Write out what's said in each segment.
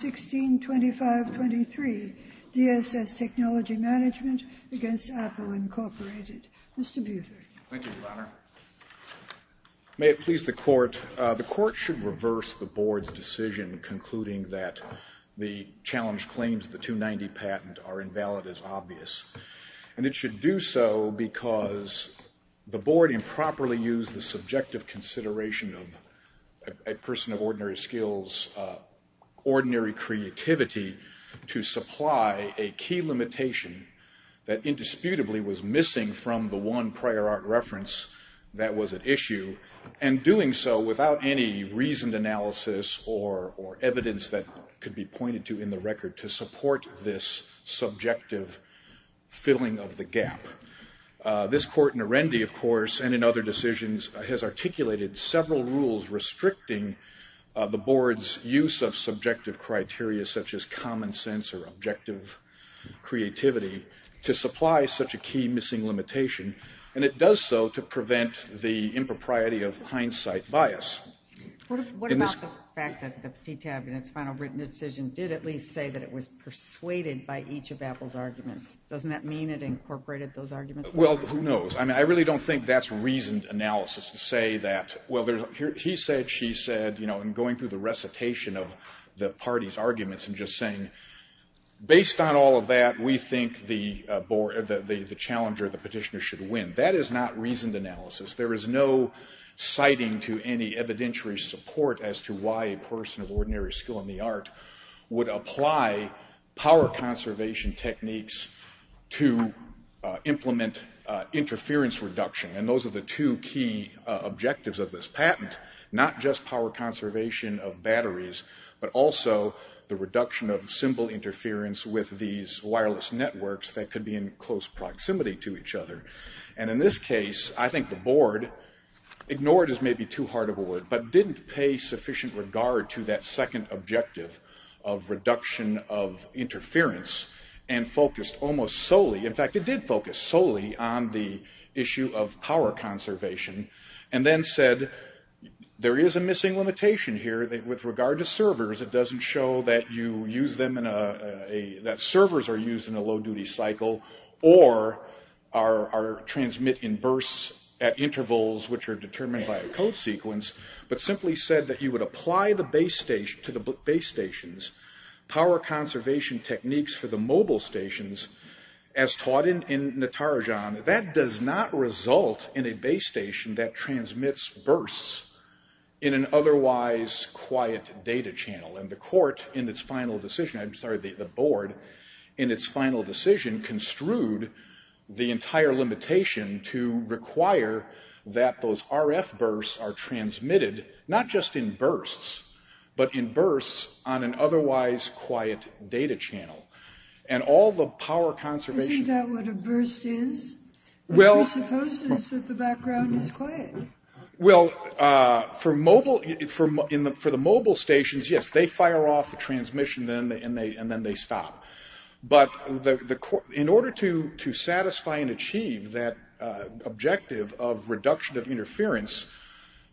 162523, DSS Technology Management v. Apple Inc. Mr. Buther. Thank you, Your Honor. May it please the Court, the Court should reverse the Board's decision concluding that the challenge claims the 290 patent are invalid as obvious. And it should do so because the Board improperly used the subjective consideration of a person of ordinary skills, ordinary creativity to supply a key limitation that indisputably was missing from the one prior art reference that was at issue and doing so without any reasoned analysis or evidence that could be pointed to in the record to support this subjective filling of the gap. This Court in Arendi, of course, and in other decisions, has articulated several rules restricting the Board's use of subjective criteria such as common sense or objective creativity to supply such a key missing limitation. And it does so to prevent the impropriety of hindsight bias. What about the fact that the PTAB in its final written decision did at least say that it was persuaded by each of Apple's arguments? Doesn't that mean it incorporated those arguments? Well, who knows? I really don't think that's reasoned analysis to say that, well, he said, she said, and going through the recitation of the party's arguments and just saying, based on all of that, we think the challenger, the petitioner, should win. That is not reasoned analysis. There is no citing to any evidentiary support as to why a person of ordinary skill and the art would apply power conservation techniques to implement interference reduction. And those are the two key objectives of this patent, not just power conservation of batteries, but also the reduction of symbol interference with these wireless networks that could be in close proximity to each other. And in this case, I think the Board, ignored as may be too hard a word, but didn't pay sufficient regard to that second objective of reduction of interference and focused almost solely, in fact, it did focus solely on the issue of power conservation and then said there is a missing limitation here with regard to servers. It doesn't show that you use them in a, that servers are used in a low-duty cycle or are transmit in bursts at intervals which are determined by a code sequence, but simply said that you would apply the base stations, power conservation techniques for the mobile stations as taught in Natarajan. That does not result in a base station that transmits bursts in an otherwise quiet data channel. And the Court in its final decision, I'm sorry, the Board in its final decision construed the entire limitation to require that those RF bursts are transmitted, not just in bursts, but in bursts on an otherwise quiet data channel. And all the power conservation... Isn't that what a burst is? Well... It supposes that the background is quiet. Well, for the mobile stations, yes, they fire off the transmission and then they stop. But in order to satisfy and achieve that objective of reduction of interference,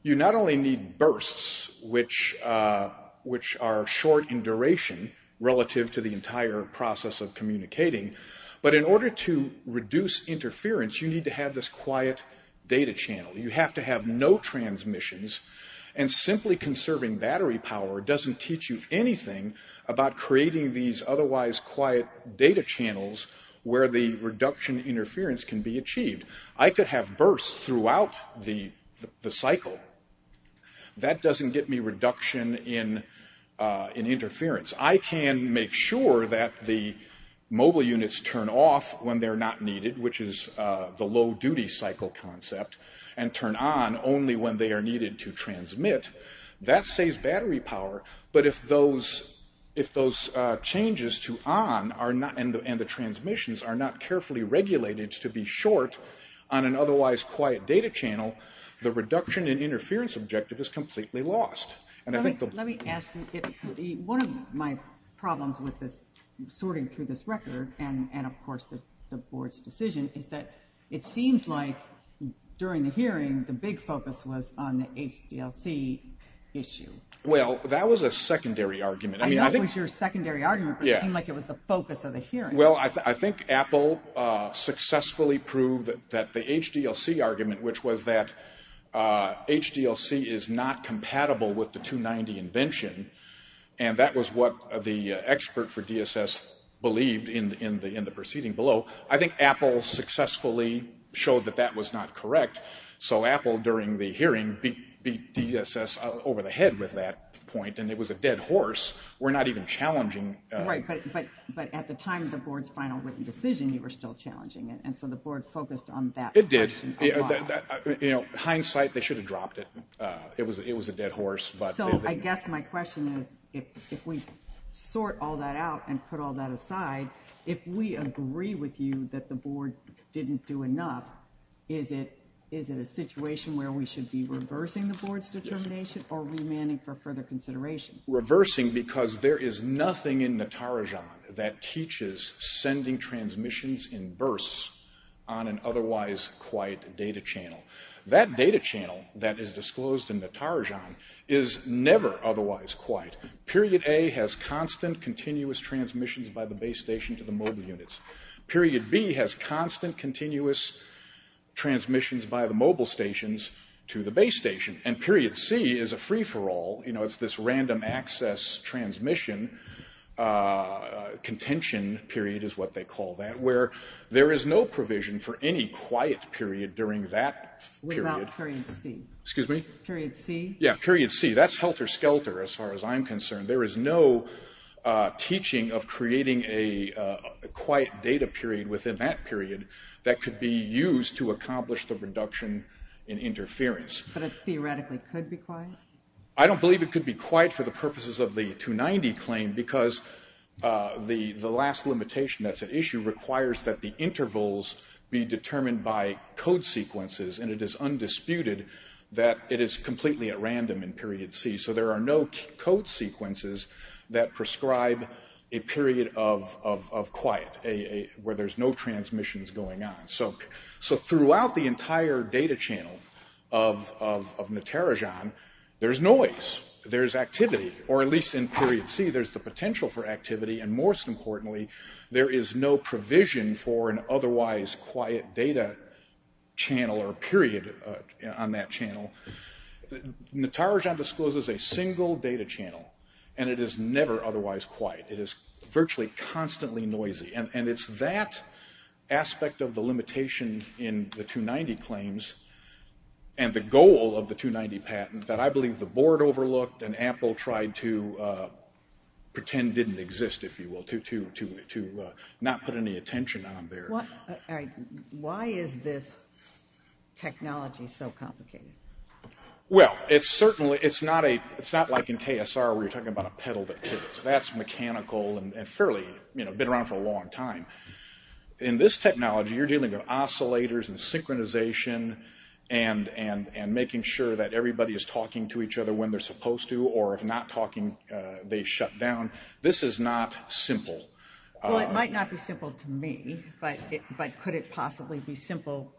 you not only need bursts which are short in duration relative to the entire process of communicating, but in order to reduce interference, you need to have this quiet data channel. You have to have no transmissions. And simply conserving battery power doesn't teach you anything about creating these otherwise quiet data channels where the reduction interference can be achieved. I could have bursts throughout the cycle. That doesn't get me reduction in interference. I can make sure that the mobile units turn off when they're not needed, which is the low-duty cycle concept. And turn on only when they are needed to transmit. That saves battery power. But if those changes to on and the transmissions are not carefully regulated to be short on an otherwise quiet data channel, the reduction in interference objective is completely lost. Let me ask you, one of my problems with sorting through this record, and of course the board's decision, is that it seems like during the hearing, the big focus was on the HDLC issue. Well, that was a secondary argument. I know it was your secondary argument, but it seemed like it was the focus of the hearing. Well, I think Apple successfully proved that the HDLC argument, which was that HDLC is not compatible with the 290 invention, and that was what the expert for DSS believed in the proceeding below. I think Apple successfully showed that that was not correct. So Apple, during the hearing, beat DSS over the head with that point, and it was a dead horse. We're not even challenging. Right, but at the time of the board's final written decision, you were still challenging it. And so the board focused on that question a lot. It did. Hindsight, they should have dropped it. It was a dead horse. So I guess my question is, if we sort all that out and put all that aside, if we agree with you that the board didn't do enough, is it a situation where we should be reversing the board's determination or remanding for further consideration? Reversing because there is nothing in Natarajan that teaches sending transmissions in bursts on an otherwise quiet data channel. That data channel that is disclosed in Natarajan is never otherwise quiet. Period A has constant, continuous transmissions by the base station to the mobile units. Period B has constant, continuous transmissions by the mobile stations to the base station. And Period C is a free-for-all. You know, it's this random access transmission, contention period is what they call that, where there is no provision for any quiet period during that period. Without Period C. Excuse me? Period C. Yeah, Period C. That's helter-skelter as far as I'm concerned. There is no teaching of creating a quiet data period within that period that could be used to accomplish the reduction in interference. But it theoretically could be quiet? I don't believe it could be quiet for the purposes of the 290 claim because the last limitation that's at issue requires that the intervals be determined by code sequences, and it is undisputed that it is completely at random in Period C. So there are no code sequences that prescribe a period of quiet, where there's no transmissions going on. So throughout the entire data channel of Natarajan, there's noise. There's activity. Or at least in Period C, there's the potential for activity, and most importantly, there is no provision for an otherwise quiet data channel or period on that channel. Natarajan discloses a single data channel, and it is never otherwise quiet. It is virtually constantly noisy. And it's that aspect of the limitation in the 290 claims and the goal of the 290 patent that I believe the board overlooked and Apple tried to pretend didn't exist, if you will, to not put any attention on there. Why is this technology so complicated? Well, it's not like in KSR where you're talking about a pedal that pivots. That's mechanical and fairly been around for a long time. In this technology, you're dealing with oscillators and synchronization and making sure that everybody is talking to each other when they're supposed to, or if not talking, they shut down. This is not simple. Well, it might not be simple to me, but could it possibly be simple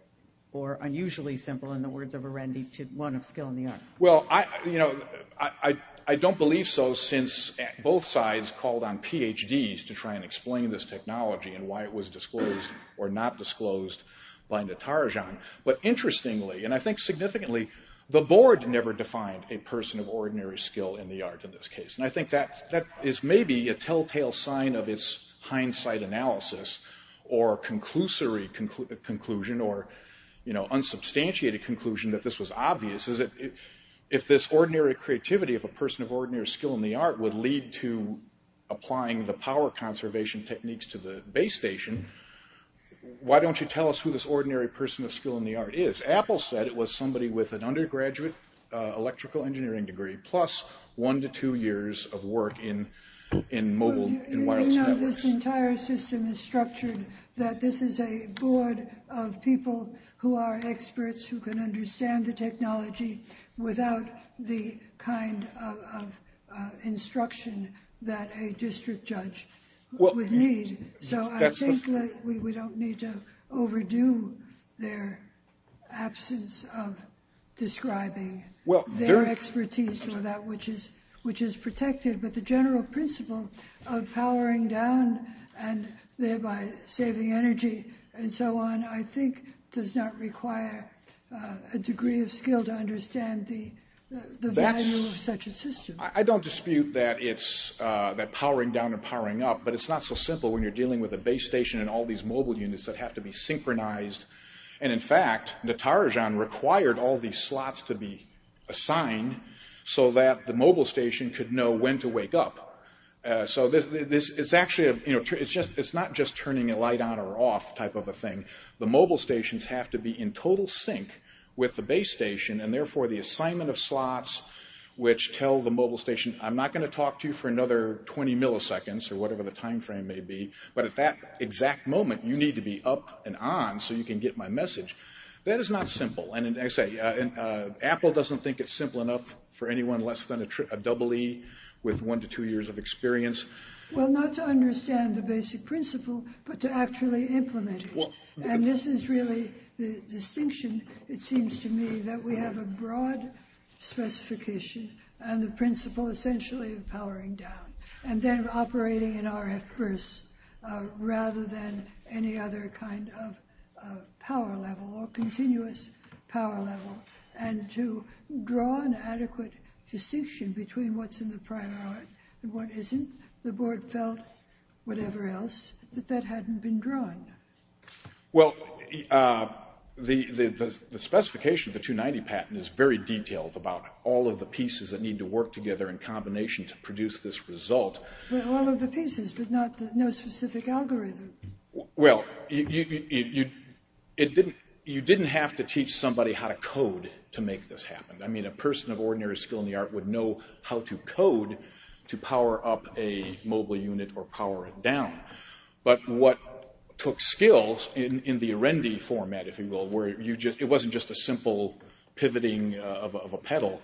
or unusually simple, in the words of Arundhati, one of skill and the art? Well, I don't believe so since both sides called on PhDs to try and explain this technology and why it was disclosed or not disclosed by Natarajan. But interestingly, and I think significantly, the board never defined a person of ordinary skill in the art in this case. And I think that is maybe a telltale sign of its hindsight analysis or conclusory conclusion or unsubstantiated conclusion that this was obvious. If this ordinary creativity of a person of ordinary skill in the art would lead to applying the power conservation techniques to the base station, why don't you tell us who this ordinary person of skill in the art is? Apple said it was somebody with an undergraduate electrical engineering degree plus one to two years of work in mobile and wireless networks. You know this entire system is structured that this is a board of people who are experts who can understand the technology without the kind of instruction that a district judge would need. So I think that we don't need to overdo their absence of describing their expertise or that which is protected. But the general principle of powering down and thereby saving energy and so on I think does not require a degree of skill to understand the value of such a system. I don't dispute that powering down and powering up, but it's not so simple when you're dealing with a base station and all these mobile units that have to be synchronized. And in fact, Natarajan required all these slots to be assigned so that the mobile station could know when to wake up. So it's not just turning a light on or off type of a thing. The mobile stations have to be in total sync with the base station and therefore the assignment of slots which tell the mobile station I'm not going to talk to you for another 20 milliseconds or whatever the time frame may be, but at that exact moment you need to be up and on so you can get my message. That is not simple. And Apple doesn't think it's simple enough for anyone less than a double E with one to two years of experience. Well, not to understand the basic principle, but to actually implement it. And this is really the distinction, it seems to me, that we have a broad specification and the principle essentially of powering down and then operating in RF first rather than any other kind of power level or continuous power level. And to draw an adequate distinction between what's in the primary and what isn't, the board felt, whatever else, that that hadn't been drawn. Well, the specification of the 290 patent is very detailed about all of the pieces that need to work together in combination to produce this result. Well, all of the pieces, but no specific algorithm. Well, you didn't have to teach somebody how to code to make this happen. I mean, a person of ordinary skill in the art would know how to code to power up a mobile unit or power it down. But what took skills in the Arundi format, if you will, where it wasn't just a simple pivoting of a pedal,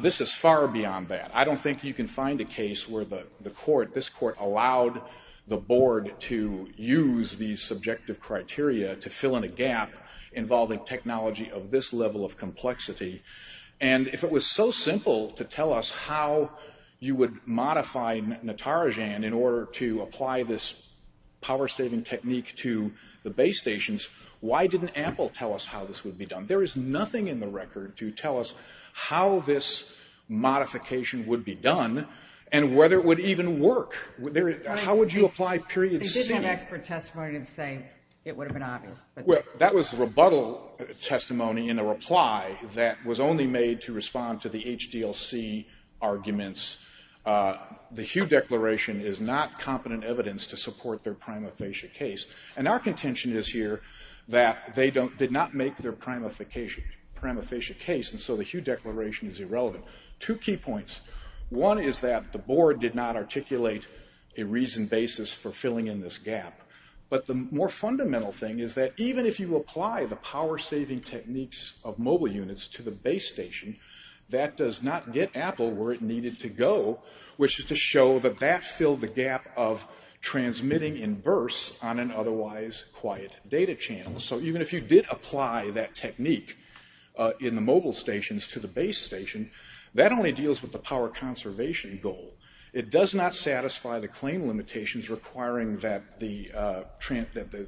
this is far beyond that. I don't think you can find a case where this court allowed the board to use these subjective criteria to fill in a gap involving technology of this level of complexity. And if it was so simple to tell us how you would modify Natarajan in order to apply this power-saving technique to the base stations, why didn't Apple tell us how this would be done? There is nothing in the record to tell us how this modification would be done and whether it would even work. How would you apply period C? They didn't have expert testimony to say it would have been obvious. Well, that was rebuttal testimony in a reply that was only made to respond to the HDLC arguments. The Hugh Declaration is not competent evidence to support their prima facie case. And our contention is here that they did not make their prima facie case, and so the Hugh Declaration is irrelevant. Two key points. One is that the board did not articulate a reasoned basis for filling in this gap. But the more fundamental thing is that even if you apply the power-saving techniques of mobile units to the base station, that does not get Apple where it needed to go, which is to show that that filled the gap of transmitting in bursts on an otherwise quiet data channel. So even if you did apply that technique in the mobile stations to the base station, that only deals with the power conservation goal. It does not satisfy the claim limitations requiring that the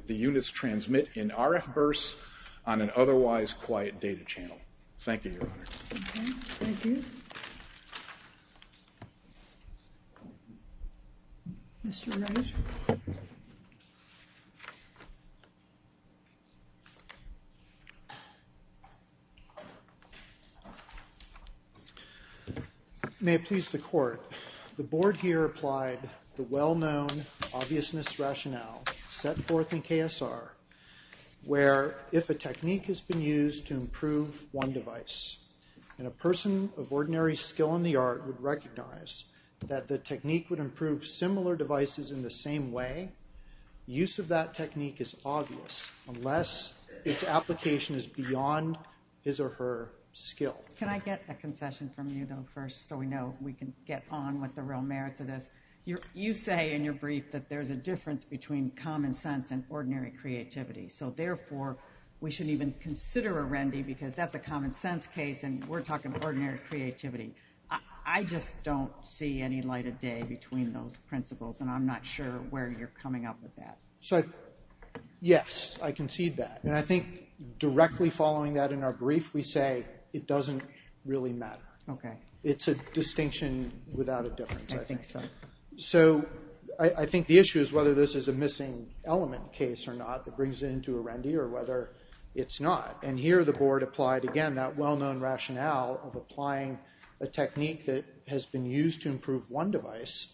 units transmit in RF bursts on an otherwise quiet data channel. Thank you, Your Honor. Okay. Thank you. Mr. Wright. May it please the Court. The board here applied the well-known obviousness rationale set forth in KSR where if a technique has been used to improve one device and a person of ordinary skill in the art would recognize that the technique would improve similar devices in the same way, use of that technique is obvious unless its application is beyond his or her skill. Can I get a concession from you, though, first, so we know we can get on with the real merits of this? You say in your brief that there's a difference between common sense and ordinary creativity, so therefore we shouldn't even consider a RENDI because that's a common sense case and we're talking ordinary creativity. I just don't see any light of day between those principles, and I'm not sure where you're coming up with that. So, yes, I concede that. And I think directly following that in our brief, we say it doesn't really matter. Okay. It's a distinction without a difference, I think. So I think the issue is whether this is a missing element case or not that brings it into a RENDI or whether it's not. And here the board applied, again, that well-known rationale of applying a technique that has been used to improve one device,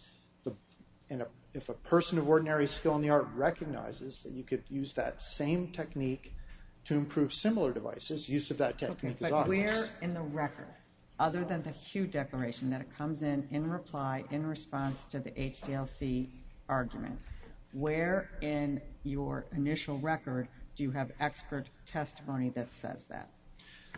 and if a person of ordinary skill in the art recognizes that you could use that same technique to improve similar devices, use of that technique is obvious. Okay, but where in the record, other than the HUE declaration, that it comes in in reply, in response to the HDLC argument, where in your initial record do you have expert testimony that says that?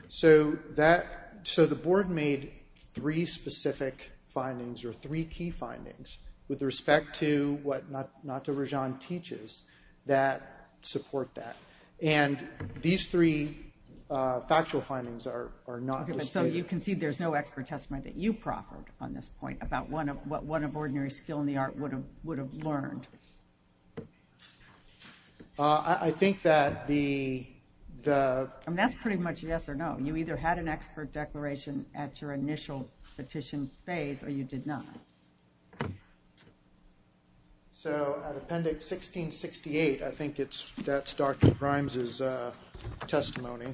So the board made three specific findings, or three key findings, with respect to what Natto Rajan teaches that support that. And these three factual findings are not listed. So you can see there's no expert testimony that you proffered on this point about what one of ordinary skill in the art would have learned. I think that the... And that's pretty much yes or no. You either had an expert declaration at your initial petition phase, or you did not. So, Appendix 1668, I think that's Dr. Grimes' testimony.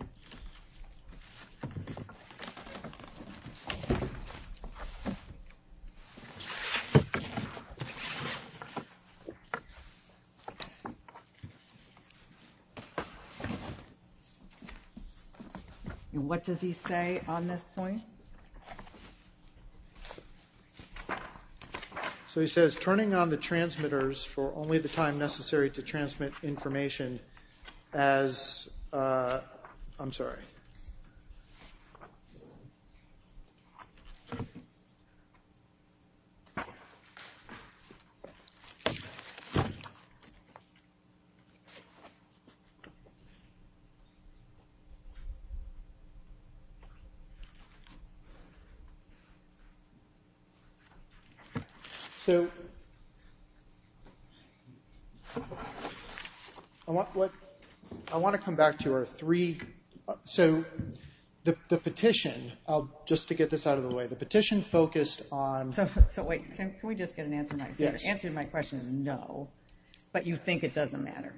What does he say on this point? So he says, turning on the transmitters for only the time necessary to transmit information as... I'm sorry. So... I want to come back to our three... So, the petition, just to get this out of the way, the petition focused on... So wait, can we just get an answer to my question? The answer to my question is no, but you think it doesn't matter.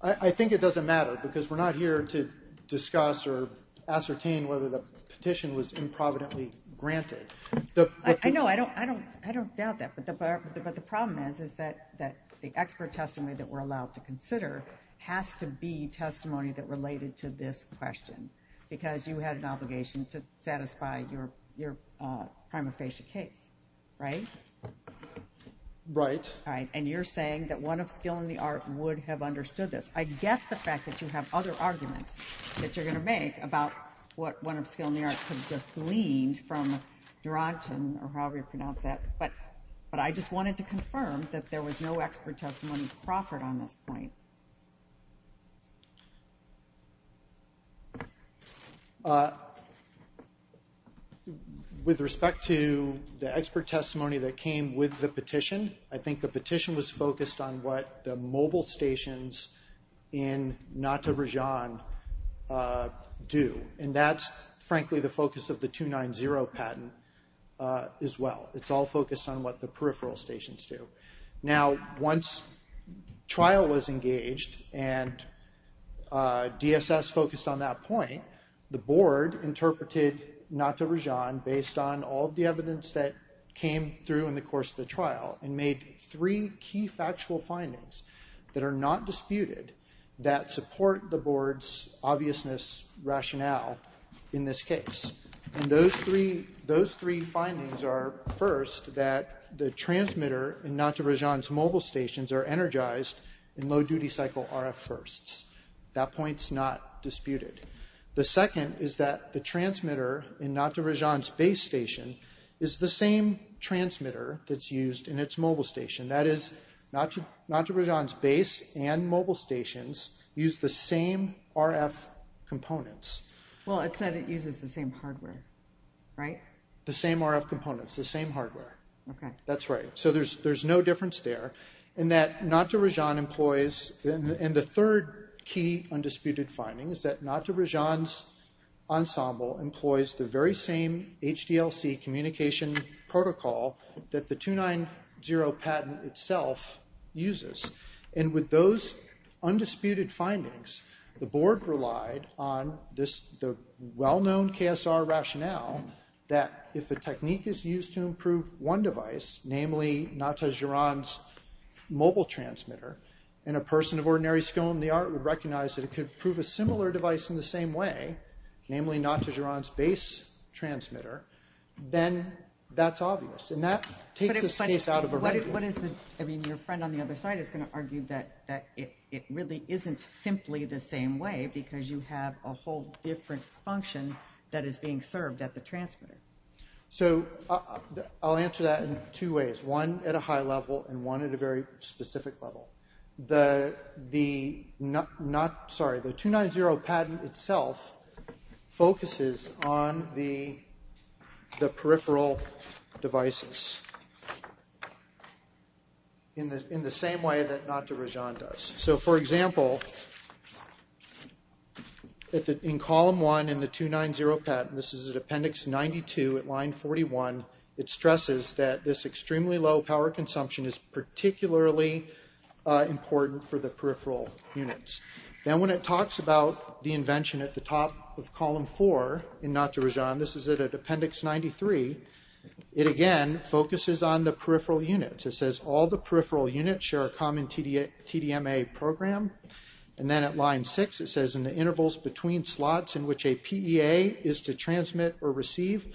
I think it doesn't matter, because we're not here to discuss or ascertain whether the petition was improvidently granted. I know, I don't doubt that, but the problem is that the expert testimony that we're allowed to consider has to be testimony that related to this question, because you had an obligation to satisfy your prima facie case, right? Right. And you're saying that one of skill in the art would have understood this. I get the fact that you have other arguments that you're going to make about what one of skill in the art could have just gleaned from Durant or however you pronounce that, but I just wanted to confirm that there was no expert testimony proffered on this point. With respect to the expert testimony that came with the petition, I think the petition was focused on what the mobile stations in Nata Brajan do, and that's frankly the focus of the 290 patent as well. It's all focused on what the peripheral stations do. Now, once trial was engaged and DSS focused on that point, the board interpreted Nata Brajan based on all of the evidence that came through in the course of the trial and made three key factual findings that are not disputed that support the board's obviousness rationale in this case. And those three findings are, first, that the transmitter in Nata Brajan's mobile stations are energized in low-duty cycle RF firsts. That point's not disputed. The second is that the transmitter in Nata Brajan's base station is the same transmitter that's used in its mobile station. That is, Nata Brajan's base and mobile stations use the same RF components. Well, it said it uses the same hardware, right? The same RF components, the same hardware. Okay. That's right. So there's no difference there in that Nata Brajan employs, and the third key undisputed finding is that Nata Brajan's ensemble employs the very same HDLC communication protocol that the 2.9.0 patent itself uses. And with those undisputed findings, the board relied on the well-known KSR rationale that if a technique is used to improve one device, namely Nata Brajan's mobile transmitter, and a person of ordinary skill in the art would recognize that it could prove a similar device in the same way, namely Nata Brajan's base transmitter, then that's obvious. And that takes the space out of a regular... But what is the... I mean, your friend on the other side is going to argue that it really isn't simply the same way because you have a whole different function that is being served at the transmitter. So I'll answer that in two ways, one at a high level and one at a very specific level. The 2.9.0 patent itself focuses on the peripheral devices in the same way that Nata Brajan does. So for example, in column one in the 2.9.0 patent, this is at appendix 92 at line 41, it stresses that this extremely low power consumption is particularly important for the peripheral units. Then when it talks about the invention at the top of column four in Nata Brajan, this is at appendix 93, it again focuses on the peripheral units. It says all the peripheral units share a common TDMA program. And then at line six, it says in the intervals between slots in which a PEA is to transmit or receive,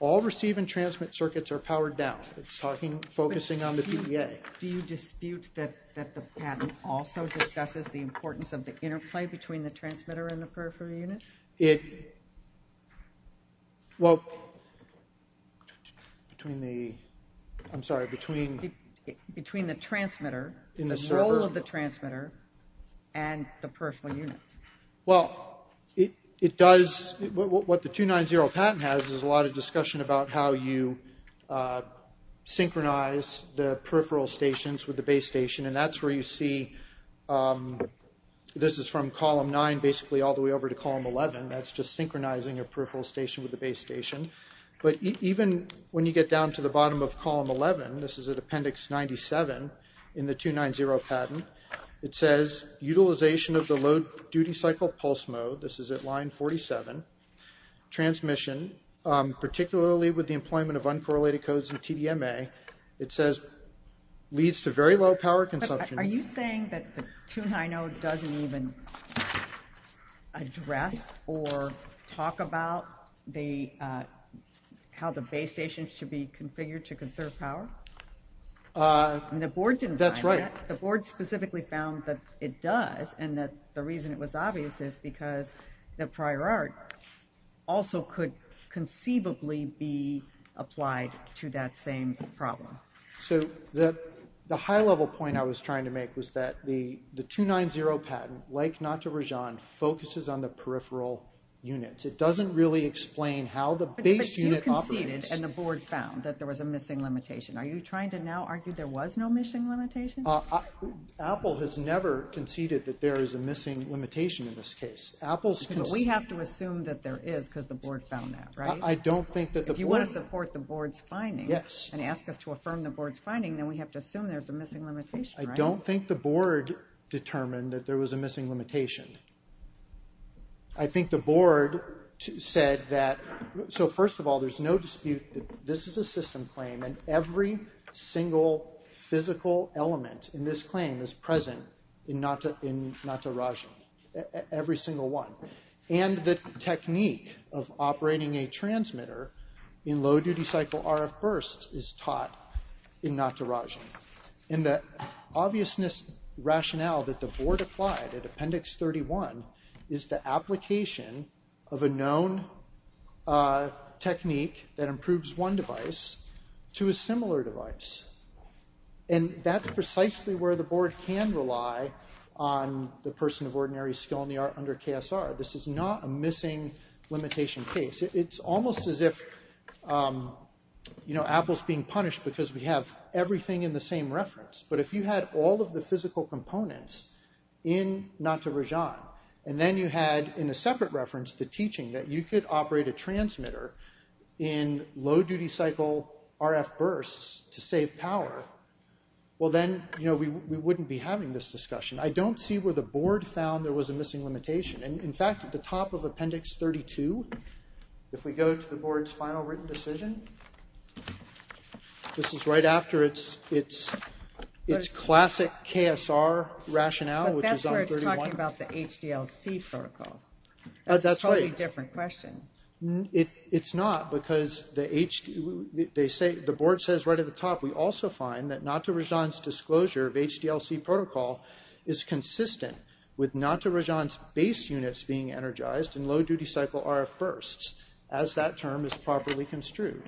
all receive and transmit circuits are powered down. It's focusing on the PEA. Do you dispute that the patent also discusses the importance of the interplay between the transmitter and the peripheral unit? Between the transmitter, the role of the transmitter, and the peripheral units. Well, what the 2.9.0 patent has is a lot of discussion about how you synchronize the peripheral stations with the base station. And that's where you see, this is from column nine basically all the way over to column 11. That's just synchronizing a peripheral station with the base station. But even when you get down to the bottom of column 11, this is at appendix 97 in the 2.9.0 patent, it says utilization of the load duty cycle pulse mode, this is at line 47, transmission, particularly with the employment of uncorrelated codes and TDMA, it says leads to very low power consumption. Are you saying that the 2.9.0 doesn't even address or talk about how the base station should be configured to conserve power? That's right. The board specifically found that it does and that the reason it was obvious is because the prior art also could conceivably be applied to that same problem. So the high-level point I was trying to make was that the 2.9.0 patent, like not to Rajan, focuses on the peripheral units. It doesn't really explain how the base unit operates. But you conceded and the board found that there was a missing limitation. Are you trying to now argue there was no missing limitation? Apple has never conceded that there is a missing limitation in this case. We have to assume that there is because the board found that, right? I don't think that the board... If you want to support the board's finding and ask us to affirm the board's finding, then we have to assume there's a missing limitation, right? I don't think the board determined that there was a missing limitation. I think the board said that... So first of all, there's no dispute that this is a system claim and every single physical element in this claim is present in not to Rajan, every single one. And the technique of operating a transmitter in low-duty cycle RF bursts is taught in not to Rajan. And the obviousness rationale that the board applied at Appendix 31 is the application of a known technique that improves one device to a similar device. And that's precisely where the board can rely on the person of ordinary skill in the art under KSR. This is not a missing limitation case. It's almost as if Apple's being punished because we have everything in the same reference. But if you had all of the physical components in not to Rajan, and then you had in a separate reference the teaching that you could operate a transmitter in low-duty cycle RF bursts to save power, well, then we wouldn't be having this discussion. I don't see where the board found there was a missing limitation. And in fact, at the top of Appendix 32, if we go to the board's final written decision, this is right after its classic KSR rationale, which is on 31. But that's where it's talking about the HDLC protocol. That's right. That's a totally different question. It's not because the board says right at the top, we also find that not to Rajan's disclosure of HDLC protocol is consistent with not to Rajan's base units being energized in low-duty cycle RF bursts as that term is properly construed.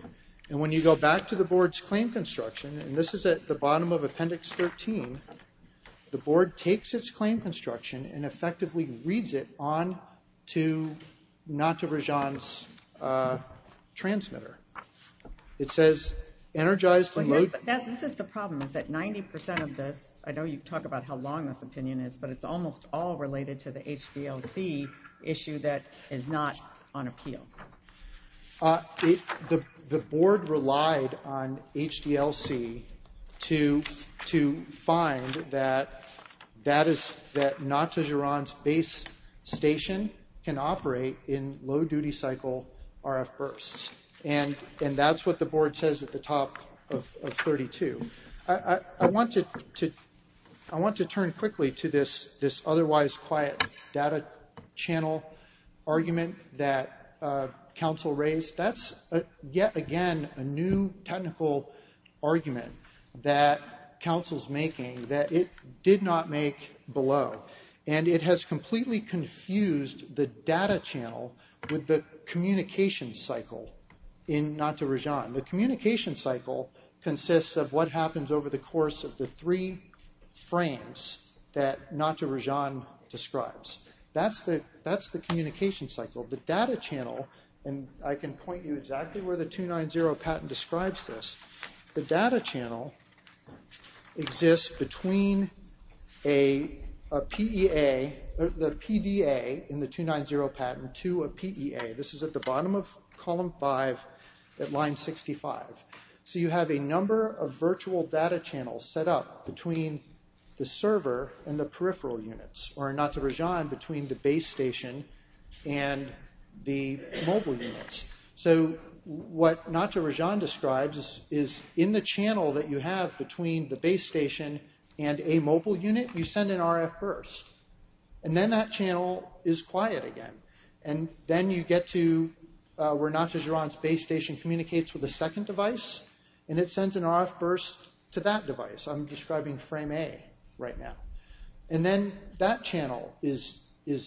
And when you go back to the board's claim construction, and this is at the bottom of Appendix 13, the board takes its claim construction and effectively reads it on to not to Rajan's transmitter. It says energized in low- This is the problem, is that 90% of this, I know you talk about how long this opinion is, but it's almost all related to the HDLC issue that is not on appeal. The board relied on HDLC to find that not to Rajan's base station can operate in low-duty cycle RF bursts. And that's what the board says at the top of 32. I want to turn quickly to this otherwise quiet data channel argument that council raised. That's yet again a new technical argument that council's making that it did not make below. And it has completely confused the data channel with the communication cycle in not to Rajan. The communication cycle consists of what happens over the course of the three frames that not to Rajan describes. That's the communication cycle. The data channel, and I can point you exactly where the 290 patent describes this. The data channel exists between a PEA, the PDA in the 290 patent to a PEA. This is at the bottom of column five at line 65. So you have a number of virtual data channels set up between the server and the peripheral units, or not to Rajan between the base station and the mobile units. What not to Rajan describes is in the channel that you have between the base station and a mobile unit, you send an RF burst. And then that channel is quiet again. And then you get to where not to Rajan's base station communicates with the second device, and it sends an RF burst to that device. I'm describing frame A right now. And then that channel is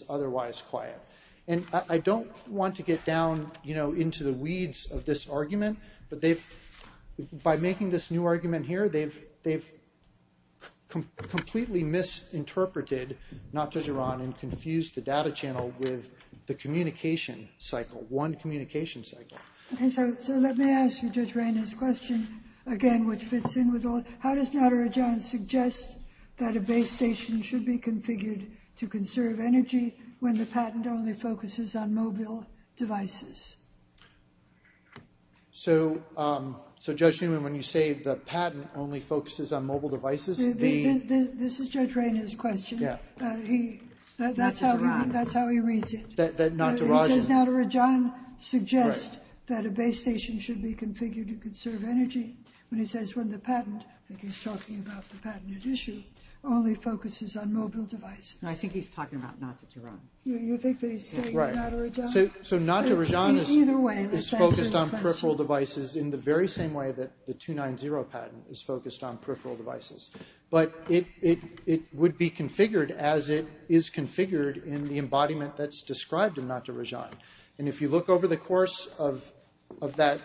otherwise quiet. And I don't want to get down, you know, into the weeds of this argument, but by making this new argument here, they've completely misinterpreted not to Rajan and confused the data channel with the communication cycle, one communication cycle. So let me ask you Judge Rainer's question again, which fits in with all. How does not to Rajan suggest that a base station should be configured to conserve energy when the patent only focuses on mobile devices? So Judge Newman, when you say the patent only focuses on mobile devices, the... This is Judge Rainer's question. Yeah. That's how he reads it. That not to Rajan... He says not to Rajan suggests that a base station should be configured to conserve energy when he says when the patent, I think he's talking about the patented issue, only focuses on mobile devices. No, I think he's talking about not to Rajan. You think that he's saying not to Rajan? So not to Rajan is focused on peripheral devices in the very same way that the 290 patent is focused on peripheral devices. But it would be configured as it is configured in the embodiment that's described in not to Rajan. And if you look over the course of that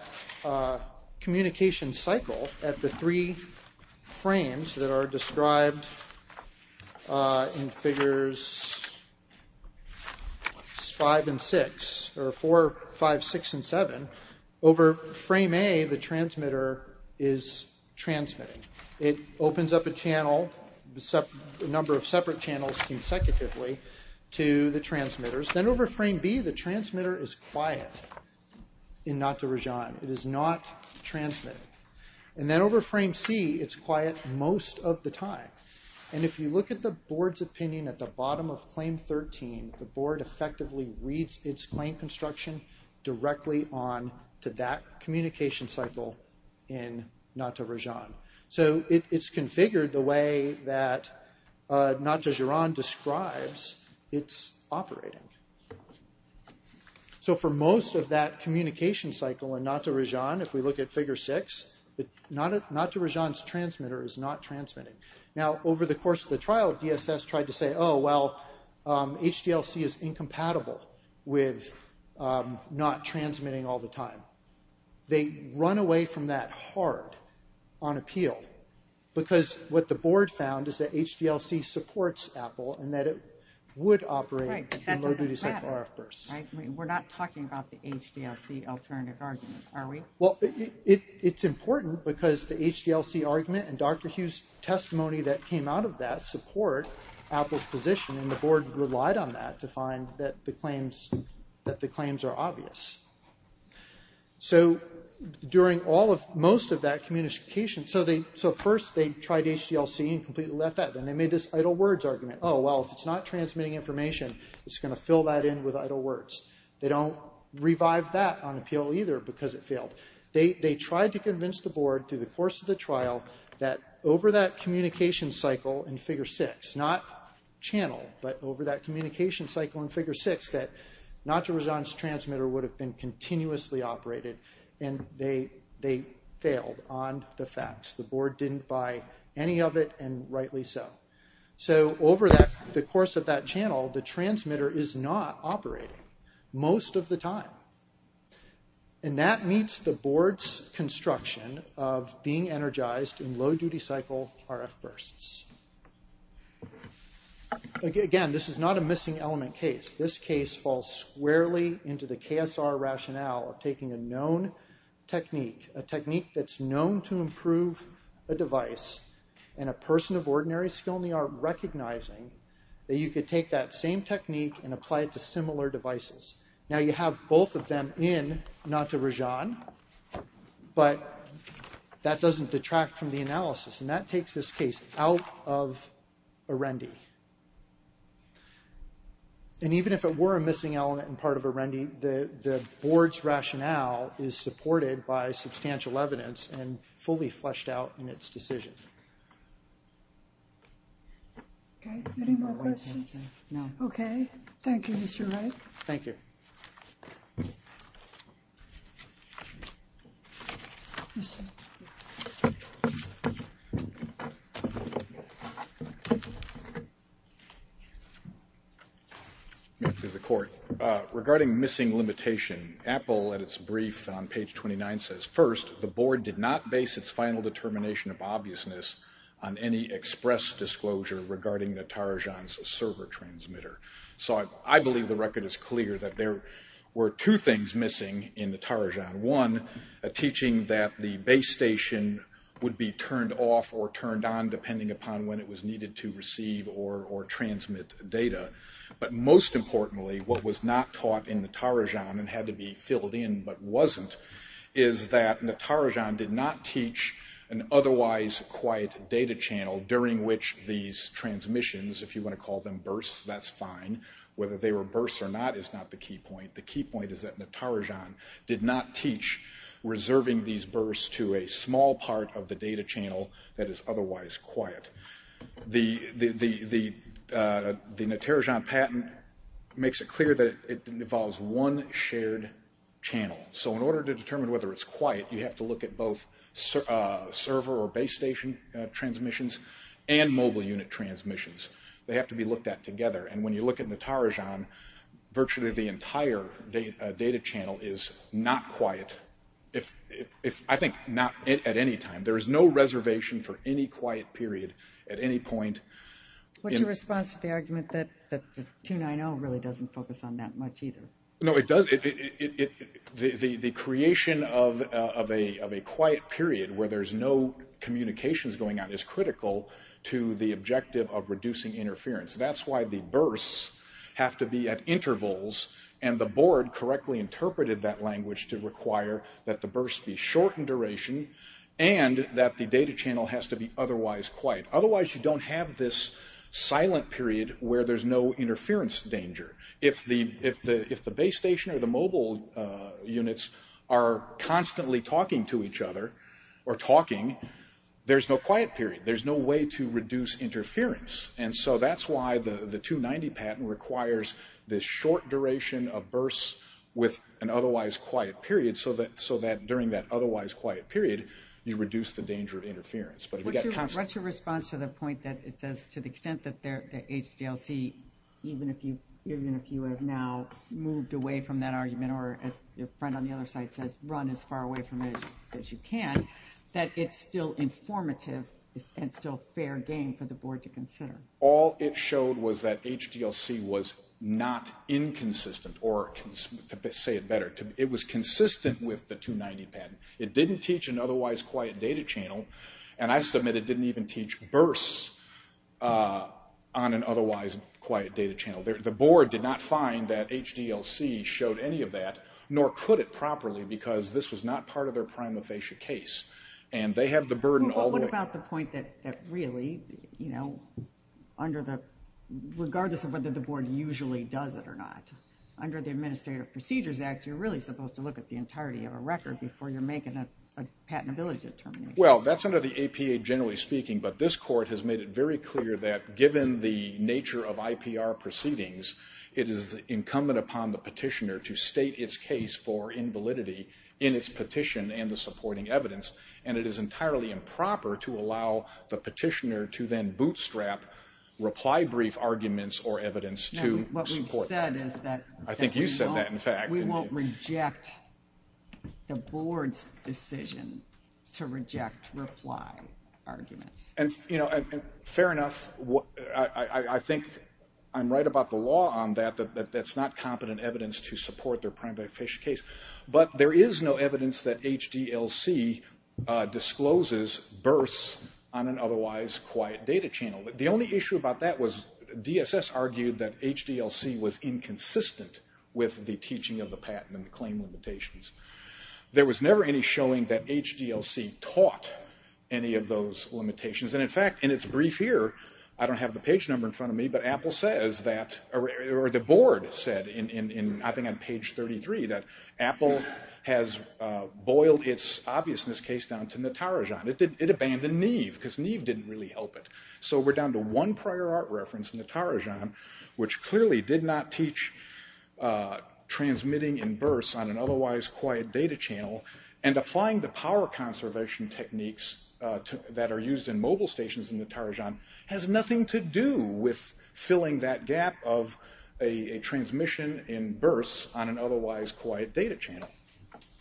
communication cycle at the three frames that are described in figures 5 and 6, or 4, 5, 6, and 7, over frame A, the transmitter is transmitting. It opens up a channel, a number of separate channels consecutively to the transmitters. Then over frame B, the transmitter is quiet in not to Rajan. It is not transmitting. And then over frame C, it's quiet most of the time. And if you look at the board's opinion at the bottom of claim 13, the board effectively reads its claim construction directly on to that communication cycle in not to Rajan. So it's configured the way that not to Juran describes it's operating. So for most of that communication cycle in not to Rajan, if we look at figure 6, not to Rajan's transmitter is not transmitting. Now over the course of the trial, DSS tried to say, oh, well, HDLC is incompatible with not transmitting all the time. They run away from that hard on appeal because what the board found is that HDLC supports Apple and that it would operate in low duty RF bursts. We're not talking about the HDLC alternative argument, are we? Well, it's important because the HDLC argument and Dr. Hughes' testimony that came out of that support Apple's position and the board relied on that to find that the claims are obvious. So during most of that communication, so first they tried HDLC and completely left that. Then they made this idle words argument. Oh, well, if it's not transmitting information, it's going to fill that in with idle words. They don't revive that on appeal either because it failed. They tried to convince the board through the course of the trial that over that communication cycle in figure 6, not channel, but over that communication cycle in figure 6, that not to Rajan's transmitter would have been continuously operated and they failed on the facts. The board didn't buy any of it and rightly so. So over the course of that channel, the transmitter is not operating most of the time. And that meets the board's construction of being energized in low duty cycle RF bursts. Again, this is not a missing element case. This case falls squarely into the KSR rationale of taking a known technique, a technique that's known to improve a device and a person of ordinary skill in the art recognizing that you could take that same technique and apply it to similar devices. Now you have both of them in not to Rajan, but that doesn't detract from the analysis. And that takes this case out of Arendi. And even if it were a missing element and part of Arendi, the board's rationale is supported by substantial evidence and fully fleshed out in its decision. Okay. Any more questions? No. Okay. Thank you, Mr. Wright. Thank you. Regarding missing limitation, Apple at its brief on page 29 says, first the board did not base its final determination of obviousness on any express disclosure regarding the Tarajan's server transmitter. So I believe the record is clear that there were two things missing in the Tarajan. One, a teaching that the base station would be turned off or turned on depending upon when it was needed to receive or transmit data. But most importantly, what was not taught in the Tarajan and had to be filled in but wasn't, is that the Tarajan did not teach an otherwise quiet data channel during which these transmissions, if you want to call them bursts, that's fine. Whether they were bursts or not is not the key point. The key point is that the Tarajan did not teach reserving these bursts to a small part of the data channel that is otherwise quiet. The Tarajan patent makes it clear that it involves one shared channel. So in order to determine whether it's quiet, you have to look at both server or base station transmissions and mobile unit transmissions. They have to be looked at together. And when you look at the Tarajan, virtually the entire data channel is not quiet, I think not at any time. There is no reservation for any quiet period at any point. What's your response to the argument that the 290 really doesn't focus on that much either? No, it does. The creation of a quiet period where there's no communications going on is critical to the objective of reducing interference. That's why the bursts have to be at intervals, and the board correctly interpreted that language to require that the bursts be short in duration and that the data channel has to be otherwise quiet. Otherwise you don't have this silent period where there's no interference danger. If the base station or the mobile units are constantly talking to each other or talking, there's no quiet period. There's no way to reduce interference. And so that's why the 290 patent requires this short duration of bursts with an otherwise quiet period so that during that otherwise quiet period you reduce the danger of interference. What's your response to the point that it says to the extent that the HDLC, even if you have now moved away from that argument or as your friend on the other side says, run as far away from it as you can, that it's still informative and still fair game for the board to consider? All it showed was that HDLC was not inconsistent, or to say it better, it was consistent with the 290 patent. It didn't teach an otherwise quiet data channel, and I submit it didn't even teach bursts on an otherwise quiet data channel. The board did not find that HDLC showed any of that, nor could it properly, because this was not part of their prima facie case. What about the point that really, regardless of whether the board usually does it or not, under the Administrative Procedures Act you're really supposed to look at the entirety of a record before you're making a patentability determination? Well, that's under the APA generally speaking, but this court has made it very clear that given the nature of IPR proceedings, it is incumbent upon the petitioner to state its case for invalidity in its petition and the supporting evidence, and it is entirely improper to allow the petitioner to then bootstrap reply brief arguments or evidence to support that. I think you said that, in fact. We won't reject the board's decision to reject reply arguments. And, you know, fair enough, I think I'm right about the law on that, that that's not competent evidence to support their prima facie case, but there is no evidence that HDLC discloses bursts on an otherwise quiet data channel. The only issue about that was DSS argued that HDLC was inconsistent with the teaching of the patent and the claim limitations. There was never any showing that HDLC taught any of those limitations. And, in fact, in its brief here, I don't have the page number in front of me, but Apple says that, or the board said, I think on page 33, that Apple has boiled its obviousness case down to Natarajan. It abandoned Neve, because Neve didn't really help it. So we're down to one prior art reference, Natarajan, which clearly did not teach transmitting in bursts on an otherwise quiet data channel, and applying the power conservation techniques that are used in mobile stations in Natarajan has nothing to do with filling that gap of a transmission in bursts on an otherwise quiet data channel.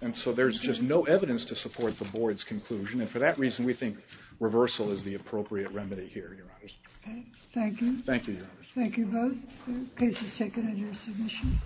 And so there's just no evidence to support the board's conclusion, and for that reason we think reversal is the appropriate remedy here, Your Honors. Okay. Thank you. Thank you, Your Honors. Thank you both. The case is taken under submission.